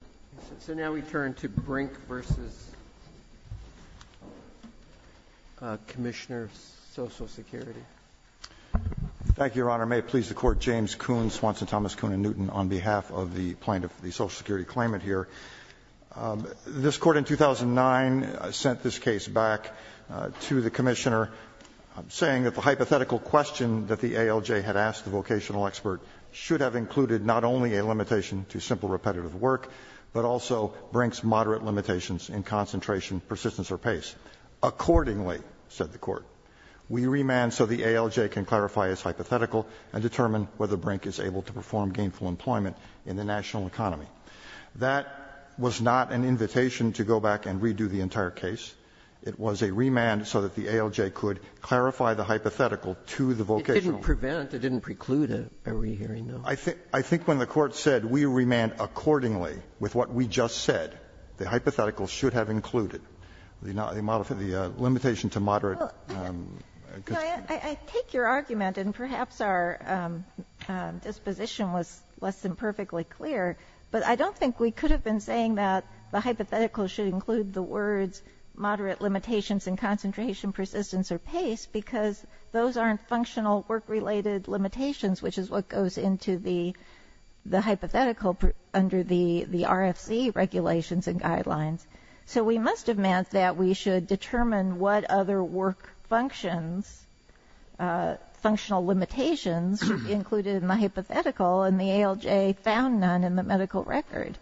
Thank you, Your Honor. May it please the Court, James Kuhn, Swanson, Thomas, Kuhn, and Newton, on behalf of the plaintiff for the Social Security claimant here. This Court in 2009 sent this case back to the Commissioner saying that the hypothetical question that the ALJ had asked the vocational expert should have included not only a limitation to simple repetitive work, but also Brink's moderate limitations in concentration, persistence, or pace. Accordingly, said the Court, we remand so the ALJ can clarify its hypothetical and determine whether Brink is able to perform gainful employment in the national economy. That was not an invitation to go back and redo the entire case. It was a remand so that the ALJ could clarify the hypothetical to the vocational expert. Sotomayor It didn't prevent, it didn't preclude a rehearing, no. I think when the Court said we remand accordingly with what we just said, the hypothetical should have included the model for the limitation to moderate. Kagan I take your argument, and perhaps our disposition was less than perfectly clear, but I don't think we could have been saying that the hypothetical was a limitation to, you know, concentration, persistence, or pace because those aren't functional work-related limitations, which is what goes into the hypothetical under the RFC regulations and guidelines. So we must have meant that we should determine what other work functions, functional limitations should be included in the hypothetical, and the ALJ found none in the medical record.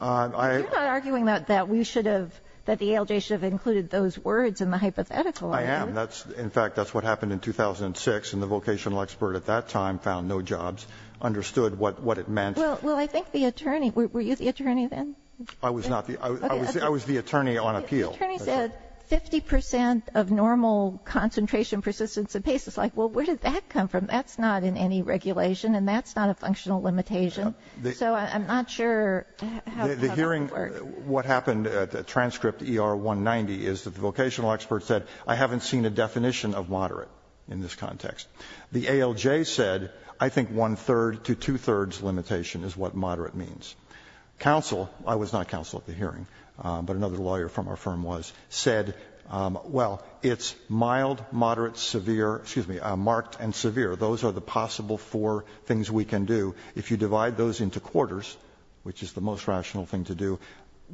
You're not arguing that we should have, that the ALJ should have included those words in the hypothetical, are you? Roberts In fact, that's what happened in 2006, and the vocational expert at that time found no jobs, understood what it meant. Kagan Well, I think the attorney, were you the attorney then? Roberts I was not. I was the attorney on appeal. Kagan The attorney said 50 percent of normal concentration, persistence, and pace. It's like, well, where did that come from? That's not in any regulation, and that's not a functional limitation. So I'm not sure how that would work. What happened at the transcript ER 190 is that the vocational expert said, I haven't seen a definition of moderate in this context. The ALJ said, I think one-third to two-thirds limitation is what moderate means. Counsel, I was not counsel at the hearing, but another lawyer from our firm was, said, well, it's mild, moderate, severe, excuse me, marked and severe. Those are the possible four things we can do. If you divide those into quarters, which is the most rational thing to do,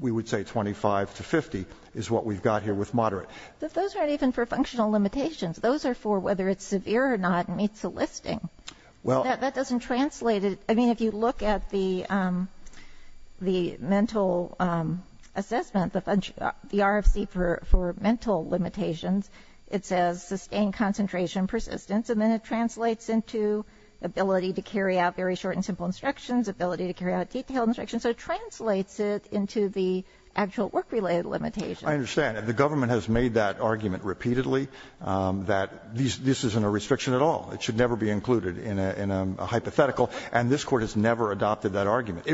we would say 25 to 50 is what we've got here with moderate. Kagan But those aren't even for functional limitations. Those are for whether it's severe or not meets the listing. That doesn't translate. I mean, if you look at the mental assessment, the RFC for mental limitations, it says sustained concentration, persistence, and then it translates into ability to carry out very short and simple instructions, ability to carry out detailed instructions. So it translates it into the actual work-related limitations. Roberts I understand. The government has made that argument repeatedly, that this isn't a restriction at all. It should never be included in a hypothetical, and this Court has never adopted that argument.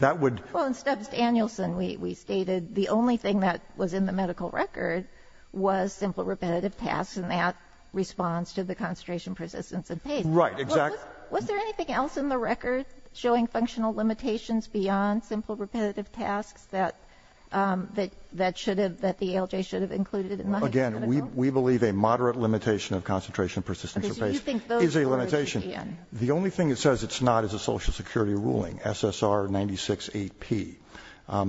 That would ---- Kagan Well, in Stubbs Danielson, we stated the only thing that was in the medical record was simple repetitive tasks, and that responds to the concentration, persistence, and pace. Roberts Right, exactly. Kagan Was there anything else in the record showing functional limitations beyond simple repetitive tasks that the ALJ should have included in the hypothetical? Roberts Again, we believe a moderate limitation of concentration, persistence, and pace is a limitation. The only thing it says it's not is a Social Security ruling, SSR 96-8P.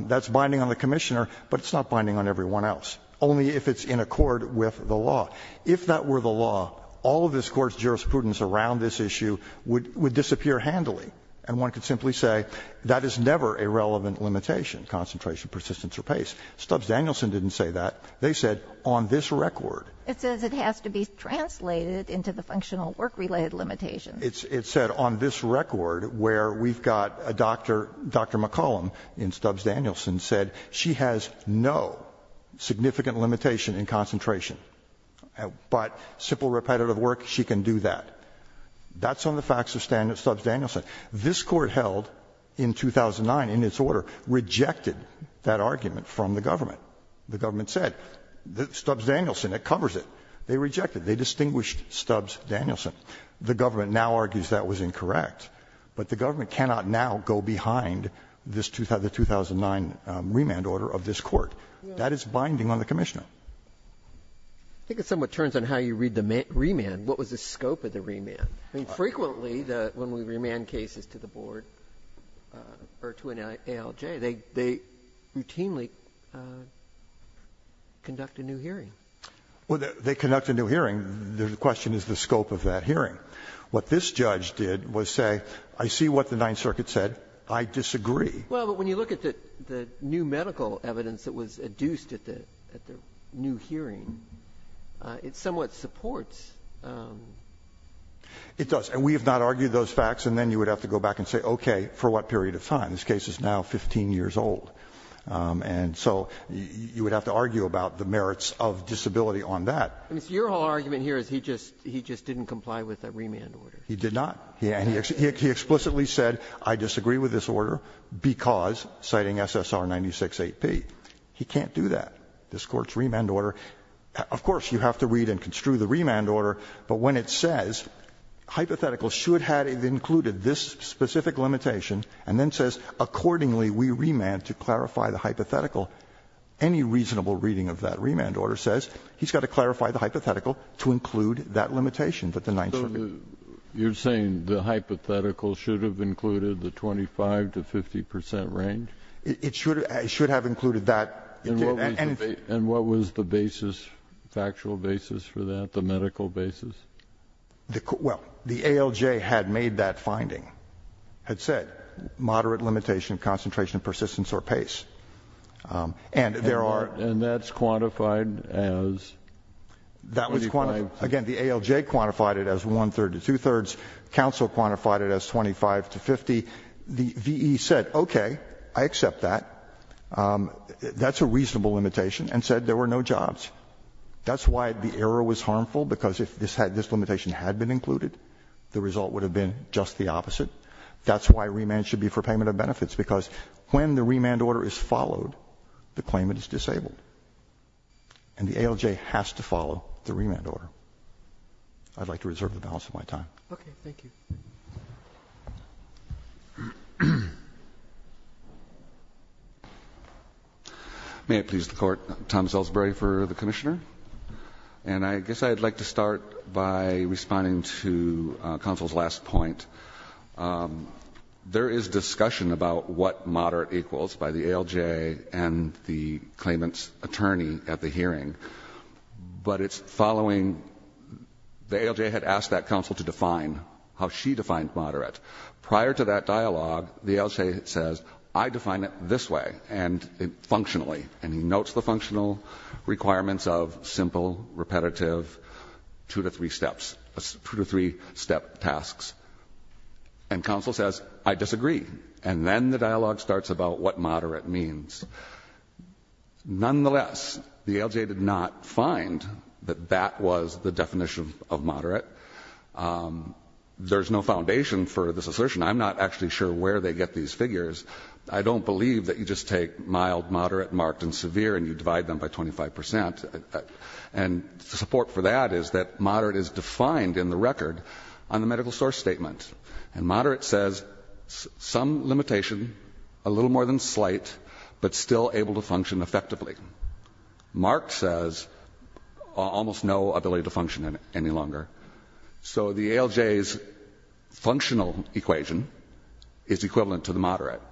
That's binding on the Commissioner, but it's not binding on everyone else, only if it's in accord with the law. If that were the law, all of this Court's jurisprudence around this issue would disappear handily, and one could simply say that is never a relevant limitation, concentration, persistence, or pace. Stubbs Danielson didn't say that. They said on this record. Kagan It says it has to be translated into the functional work-related limitations. Roberts It said on this record where we've got a doctor, Dr. McCollum in Stubbs Danielson said she has no significant limitation in concentration, but simple repetitive work, she can do that. That's on the facts of Stubbs Danielson. This Court held in 2009, in its order, rejected that argument from the government. The government said Stubbs Danielson, it covers it. They rejected it. They distinguished Stubbs Danielson. The government now argues that was incorrect. But the government cannot now go behind this 2009 remand order of this Court. That is binding on the Commissioner. Breyer I think it somewhat turns on how you read the remand. What was the scope of the remand? I mean, frequently when we remand cases to the board or to an ALJ, they routinely conduct a new hearing. Stubbs Danielson Well, they conduct a new hearing. The question is the scope of that hearing. What this judge did was say, I see what the Ninth Circuit said. I disagree. Breyer Well, but when you look at the new medical evidence that was adduced at the new hearing, it somewhat supports. Stubbs Danielson It does. And we have not argued those facts. And then you would have to go back and say, okay, for what period of time? This case is now 15 years old. And so you would have to argue about the merits of disability on that. I mean, so your whole argument here is he just didn't comply with the remand order. Stubbs Danielson He did not. And he explicitly said, I disagree with this order because, citing SSR 968P. He can't do that. This Court's remand order, of course, you have to read and construe the remand order, but when it says hypothetical should have included this specific limitation and then says accordingly we remand to clarify the hypothetical, any reasonable reading of that remand order says he's got to clarify the hypothetical to include that limitation that the Ninth Circuit. Kennedy So you're saying the hypothetical should have included the 25 to 50 percent range? Stubbs Danielson It should have included that. Kennedy And what was the basis, factual basis for that, the medical basis? Stubbs Danielson Well, the ALJ had made that finding, had said moderate limitation of concentration, persistence or pace. And there are. Kennedy And that's quantified as? Stubbs Danielson That was quantified. Again, the ALJ quantified it as one-third to two-thirds. Counsel quantified it as 25 to 50. The V.E. said, okay, I accept that. That's a reasonable limitation and said there were no jobs. That's why the error was harmful, because if this limitation had been included, the result would have been just the opposite. That's why remand should be for payment of benefits, because when the remand order is followed, the claimant is disabled. And the ALJ has to follow the remand order. I'd like to reserve the balance of my time. Roberts Okay. Thank you. Elsberry May I please the Court? Tom Elsberry for the Commissioner. And I guess I'd like to start by responding to Counsel's last point. There is discussion about what moderate equals by the ALJ and the claimant's attorney at the hearing. But it's following, the ALJ had asked that Counsel to define how she defined moderate. Prior to that dialogue, the ALJ says, I define it this way and functionally. And he notes the functional requirements of simple, repetitive two to three steps, tasks. And Counsel says, I disagree. And then the dialogue starts about what moderate means. Nonetheless, the ALJ did not find that that was the definition of moderate. There's no foundation for this assertion. I'm not actually sure where they get these figures. I don't believe that you just take mild, moderate, marked, and severe, and you divide them by 25%. And support for that is that moderate is defined in the record on the medical source statement. And moderate says, some limitation, a little more than slight, but still able to function effectively. Marked says, almost no ability to function any longer. So the ALJ's functional equation is equivalent to the moderate. All right.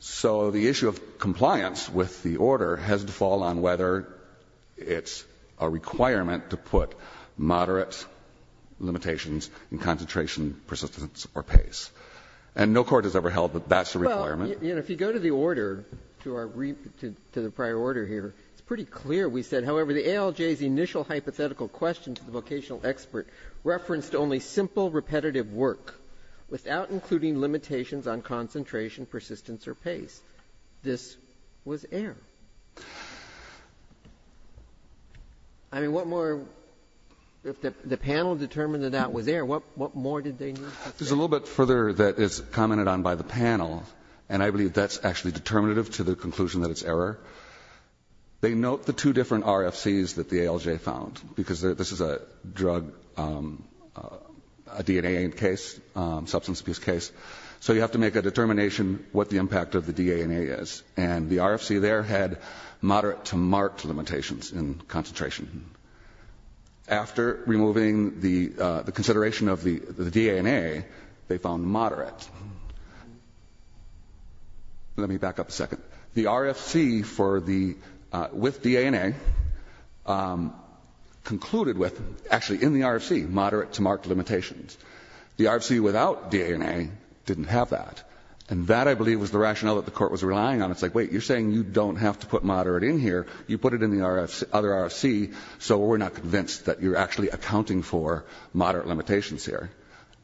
So the issue of compliance with the order has to fall on whether it's a requirement to put moderate limitations in concentration, persistence, or pace. And no court has ever held that that's a requirement. Well, you know, if you go to the order, to the prior order here, it's pretty clear we said, however, the ALJ's initial hypothetical question to the vocational expert referenced only simple, repetitive work without including limitations on concentration, persistence, or pace. This was error. I mean, what more, if the panel determined that that was error, what more did they need to say? There's a little bit further that is commented on by the panel, and I believe that's actually determinative to the conclusion that it's error. They note the two different RFCs that the ALJ found. Because this is a drug, a DNA case, substance abuse case. So you have to make a determination what the impact of the DNA is. And the RFC there had moderate to marked limitations in concentration. After removing the consideration of the DNA, they found moderate. Let me back up a second. The RFC with DNA concluded with, actually in the RFC, moderate to marked limitations. The RFC without DNA didn't have that. And that, I believe, was the rationale that the Court was relying on. It's like, wait, you're saying you don't have to put moderate in here. You put it in the other RFC, so we're not convinced that you're actually accounting for moderate limitations here.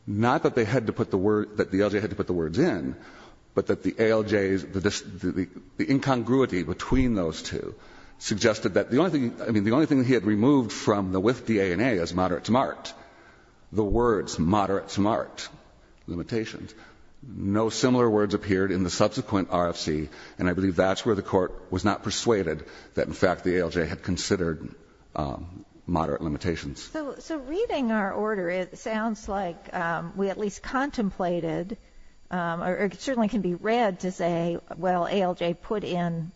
Not that they had to put the words, that the ALJ had to put the words in, but that the ALJ's, the incongruity between those two suggested that the only thing, I mean, the only thing he had removed from the with DNA is moderate to marked. The words moderate to marked limitations. No similar words appeared in the subsequent RFC, and I believe that's where the Court was not persuaded that, in fact, the ALJ had considered moderate limitations. So reading our order, it sounds like we at least contemplated, or it certainly can be read to say, well, ALJ put in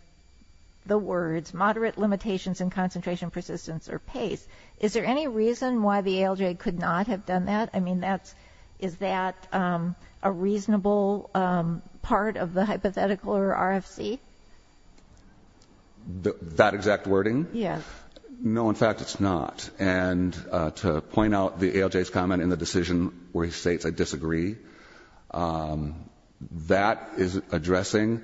the words moderate limitations in concentration, persistence, or pace. Is there any reason why the ALJ could not have done that? I mean, is that a reasonable part of the hypothetical or RFC? That exact wording? Yes. No, in fact, it's not. And to point out the ALJ's comment in the decision where he states I disagree, that is addressing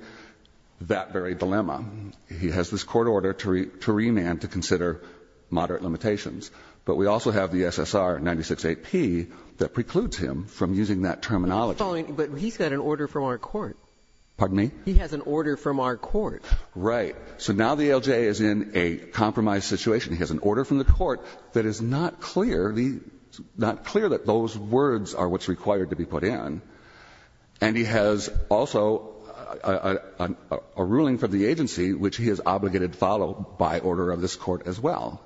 that very dilemma. He has this court order to remand to consider moderate limitations. But we also have the SSR 96-8P that precludes him from using that terminology. But he's got an order from our court. Pardon me? He has an order from our court. Right. So now the ALJ is in a compromised situation. He has an order from the court that is not clear, not clear that those words are what's required to be put in. And he has also a ruling from the agency which he is obligated to follow by order of this court as well.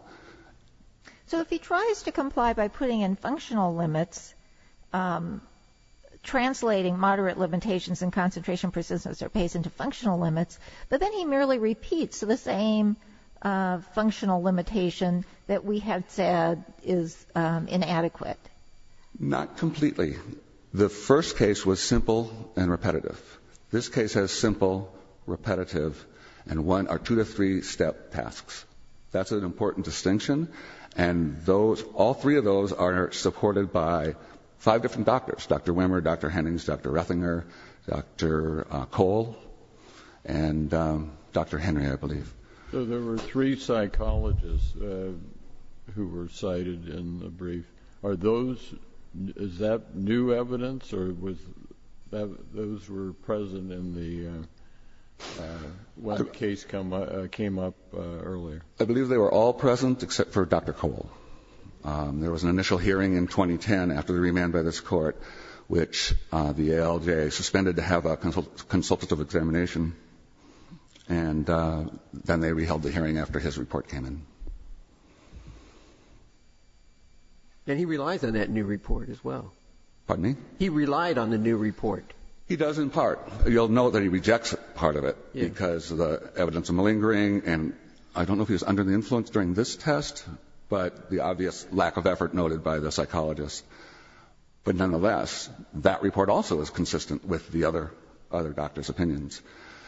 So if he tries to comply by putting in functional limits, translating moderate limitations in concentration, persistence, or pace into functional limits, but then he merely repeats the same functional limitation that we had said is inadequate. Not completely. The first case was simple and repetitive. This case has simple, repetitive, and one or two to three step tasks. That's an important distinction. And all three of those are supported by five different doctors, Dr. Henry, I believe. So there were three psychologists who were cited in the brief. Are those, is that new evidence? Or was that, those were present in the, when the case came up earlier? I believe they were all present except for Dr. Cole. There was an initial hearing in 2010 after the remand by this court which the ALJ suspended to have a consultative examination. And then they reheld the hearing after his report came in. And he relies on that new report as well. Pardon me? He relied on the new report. He does in part. You'll note that he rejects part of it because the evidence is malingering. And I don't know if he was under the influence during this test, but the obvious lack of effort noted by the psychologists. But nonetheless, that report also is consistent with the other doctor's opinions.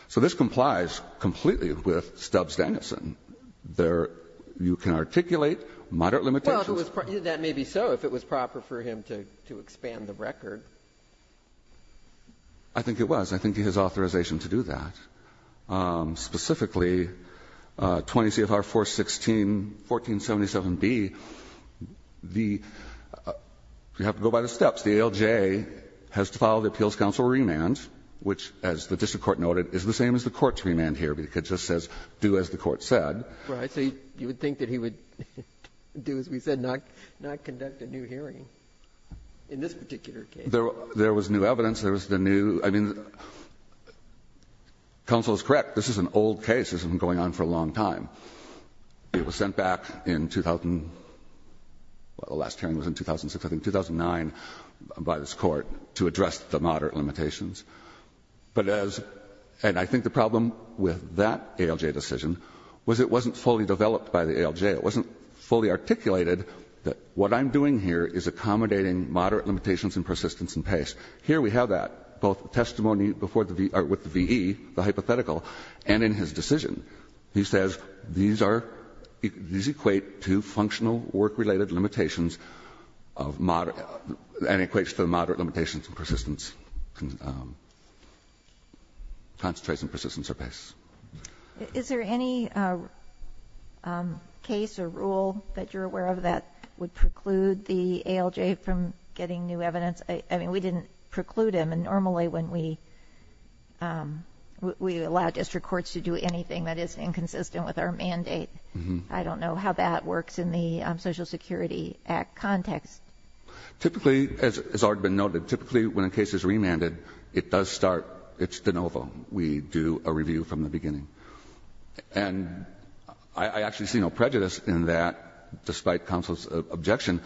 So this complies completely with Stubbs-Danielson. There, you can articulate moderate limitations. Well, that may be so if it was proper for him to expand the record. I think it was. I think he has authorization to do that. Specifically, 20 CFR 416, 1477b, the you have to go by the steps. The ALJ has to file the appeals counsel remand, which as the district court noted is the same as the court's remand here. It just says do as the court said. Right. So you would think that he would do as we said not conduct a new hearing in this particular case. There was new evidence. There was the new. I mean, counsel is correct. This is an old case. This has been going on for a long time. It was sent back in, well, the last hearing was in 2006, I think, 2009 by this court to address the moderate limitations. And I think the problem with that ALJ decision was it wasn't fully developed by the ALJ. It wasn't fully articulated that what I'm doing here is accommodating moderate limitations and persistence and pace. Here we have that, both testimony before the V or with the VE, the hypothetical, and in his decision. He says these are, these equate to functional work-related limitations of moderate and equates to the moderate limitations and persistence and concentration and persistence or pace. Is there any case or rule that you're aware of that would preclude the ALJ from getting new evidence? I mean, we didn't preclude him. And normally when we allow district courts to do anything that is inconsistent with our mandate, I don't know how that works in the Social Security Act context. Typically, as has already been noted, typically when a case is remanded, it does start, it's de novo. We do a review from the beginning. And I actually see no prejudice in that, despite counsel's objection,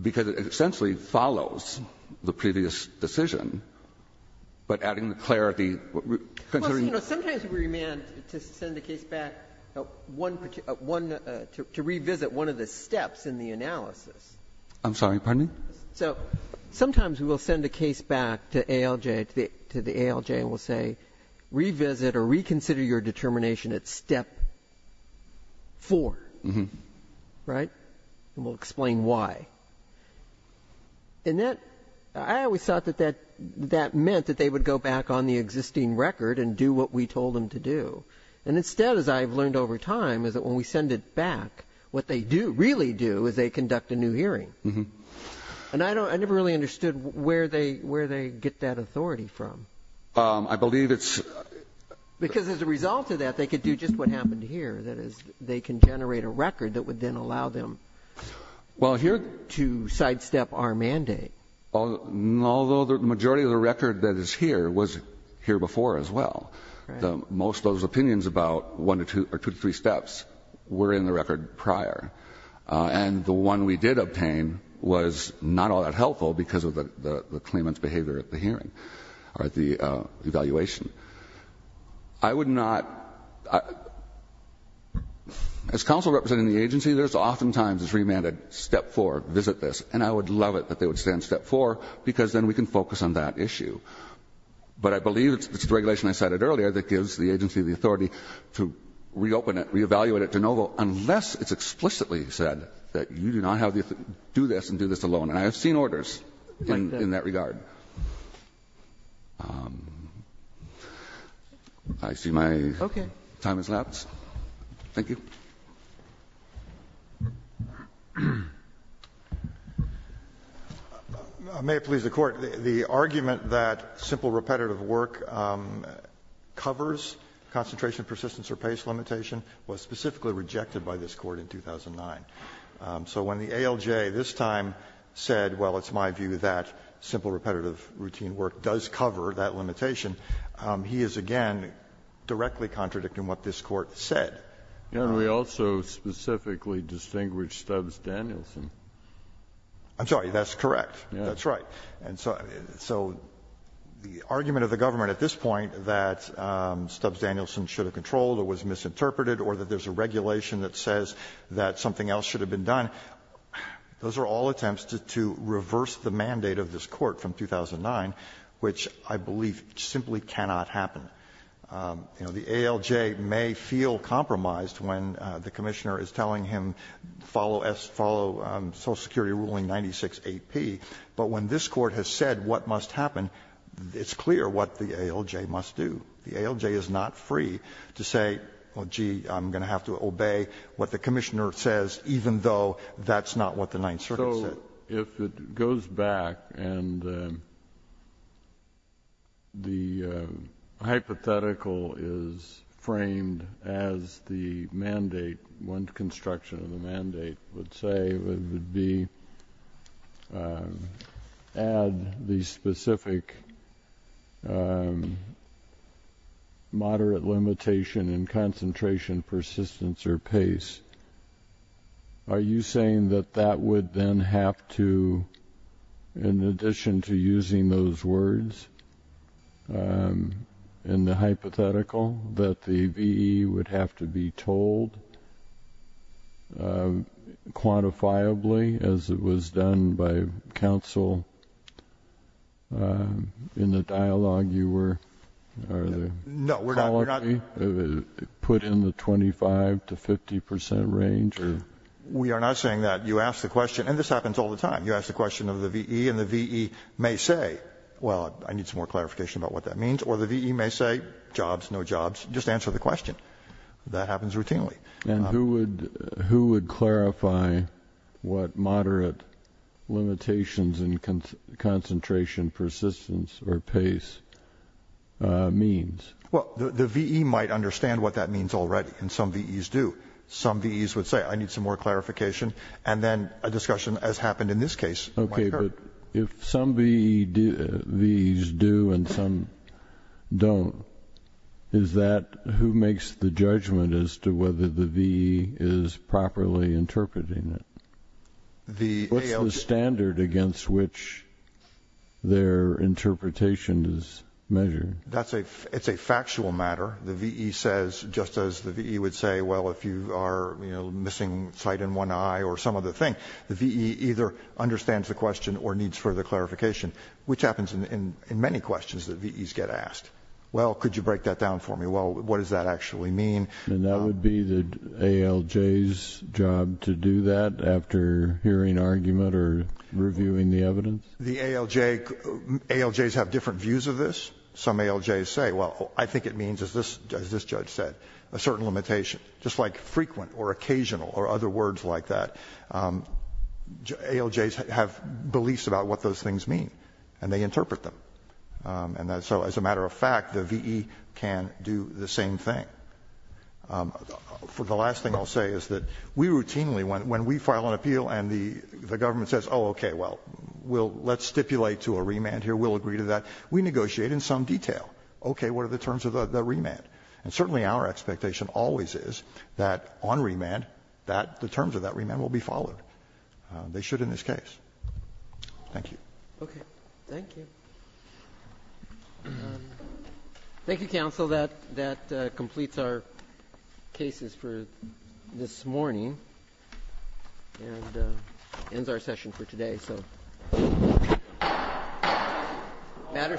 because it essentially follows the previous decision, but adding the clarity. Sometimes we remand to send a case back, to revisit one of the steps in the analysis. I'm sorry, pardon me? So sometimes we will send a case back to ALJ, to the ALJ, and we'll say, revisit or reconsider your determination at step 4. Right? And we'll explain why. And that, I always thought that that meant that they would go back on the existing record and do what we told them to do. And instead, as I have learned over time, is that when we send it back, what they do, really do, is they conduct a new hearing. And I never really understood where they get that authority from. I believe it's the result of that, they could do just what happened here. That is, they can generate a record that would then allow them. Well, here to sidestep our mandate. Although the majority of the record that is here was here before as well. Most of those opinions about 1 to 2 or 2 to 3 steps were in the record prior. And the one we did obtain was not all that helpful because of the claimant's behavior at the hearing, or at the evaluation. I would not... As counsel representing the agency, there's oftentimes this remand at step 4, visit this. And I would love it that they would stay on step 4 because then we can focus on that issue. But I believe it's the regulation I cited earlier that gives the agency the authority to reopen it, re-evaluate it, de novo, unless it's explicitly said that you do not have the authority to do this and do this alone. And I have seen orders in that regard. I see my time has lapsed. Thank you. May it please the Court. The argument that simple repetitive work covers concentration, persistence or pace limitation was specifically rejected by this Court in 2009. So when the ALJ this time said, well, it's my view that simple repetitive work does cover that limitation, he is, again, directly contradicting what this Court said. And we also specifically distinguished Stubbs Danielson. I'm sorry. That's correct. That's right. And so the argument of the government at this point that Stubbs Danielson should have controlled or was misinterpreted or that there's a regulation that says that something else should have been done, those are all attempts to reverse the mandate of this Court from 2009, which I believe simply cannot happen. You know, the ALJ may feel compromised when the Commissioner is telling him, follow us, follow Social Security ruling 96AP, but when this Court has said what must happen, it's clear what the ALJ must do. The ALJ is not free to say, well, gee, I'm going to have to obey what the Commissioner says, even though that's not what the Ninth Circuit said. So if it goes back and the hypothetical is framed as the mandate, one construction of the mandate would say, would be add the specific moderate limitation in concentration, persistence, or pace, are you saying that that would then have to, in addition to using those words in the hypothetical, that the VE would have to be told quantifiably as it was done by counsel in the dialogue you were, are there? No, we're not. Put in the 25 to 50 percent range? We are not saying that. You ask the question, and this happens all the time, you ask the question of the VE, and the VE may say, well, I need some more clarification about what that means, or the VE may say, jobs, no jobs, just answer the question. That happens routinely. And who would clarify what moderate limitations in concentration, persistence, or pace means? Well, the VE might understand what that means already, and some VEs do. Some VEs would say, I need some more clarification, and then a discussion, as happened in this case, might occur. Okay, but if some VEs do and some don't, is that who makes the judgment as to whether the VE is properly interpreting it? What's the standard against which their interpretation is measured? It's a factual matter. The VE says, just as the VE would say, well, if you are missing sight in one eye or some other thing, the VE either understands the question or needs further clarification, which happens in many questions that VEs get asked. Well, could you break that down for me? Well, what does that actually mean? And that would be the ALJ's job to do that after hearing argument or reviewing the evidence? The ALJs have different views of this. Some ALJs say, well, I think it means, as this judge said, a certain limitation, just like frequent or occasional or other words like that. ALJs have beliefs about what those things mean, and they interpret them. And so as a matter of fact, the VE can do the same thing. The last thing I'll say is that we routinely, when we file an appeal and the government says, oh, okay, well, let's stipulate to a remand here, we'll agree to that, we negotiate in some detail, okay, what are the terms of the remand. And certainly our expectation always is that on remand that the terms of that remand will be followed. They should in this case. Thank you. Okay. Thank you. Thank you, counsel. That completes our cases for this morning and ends our session for today. Thank you, counsel. Matter submitted.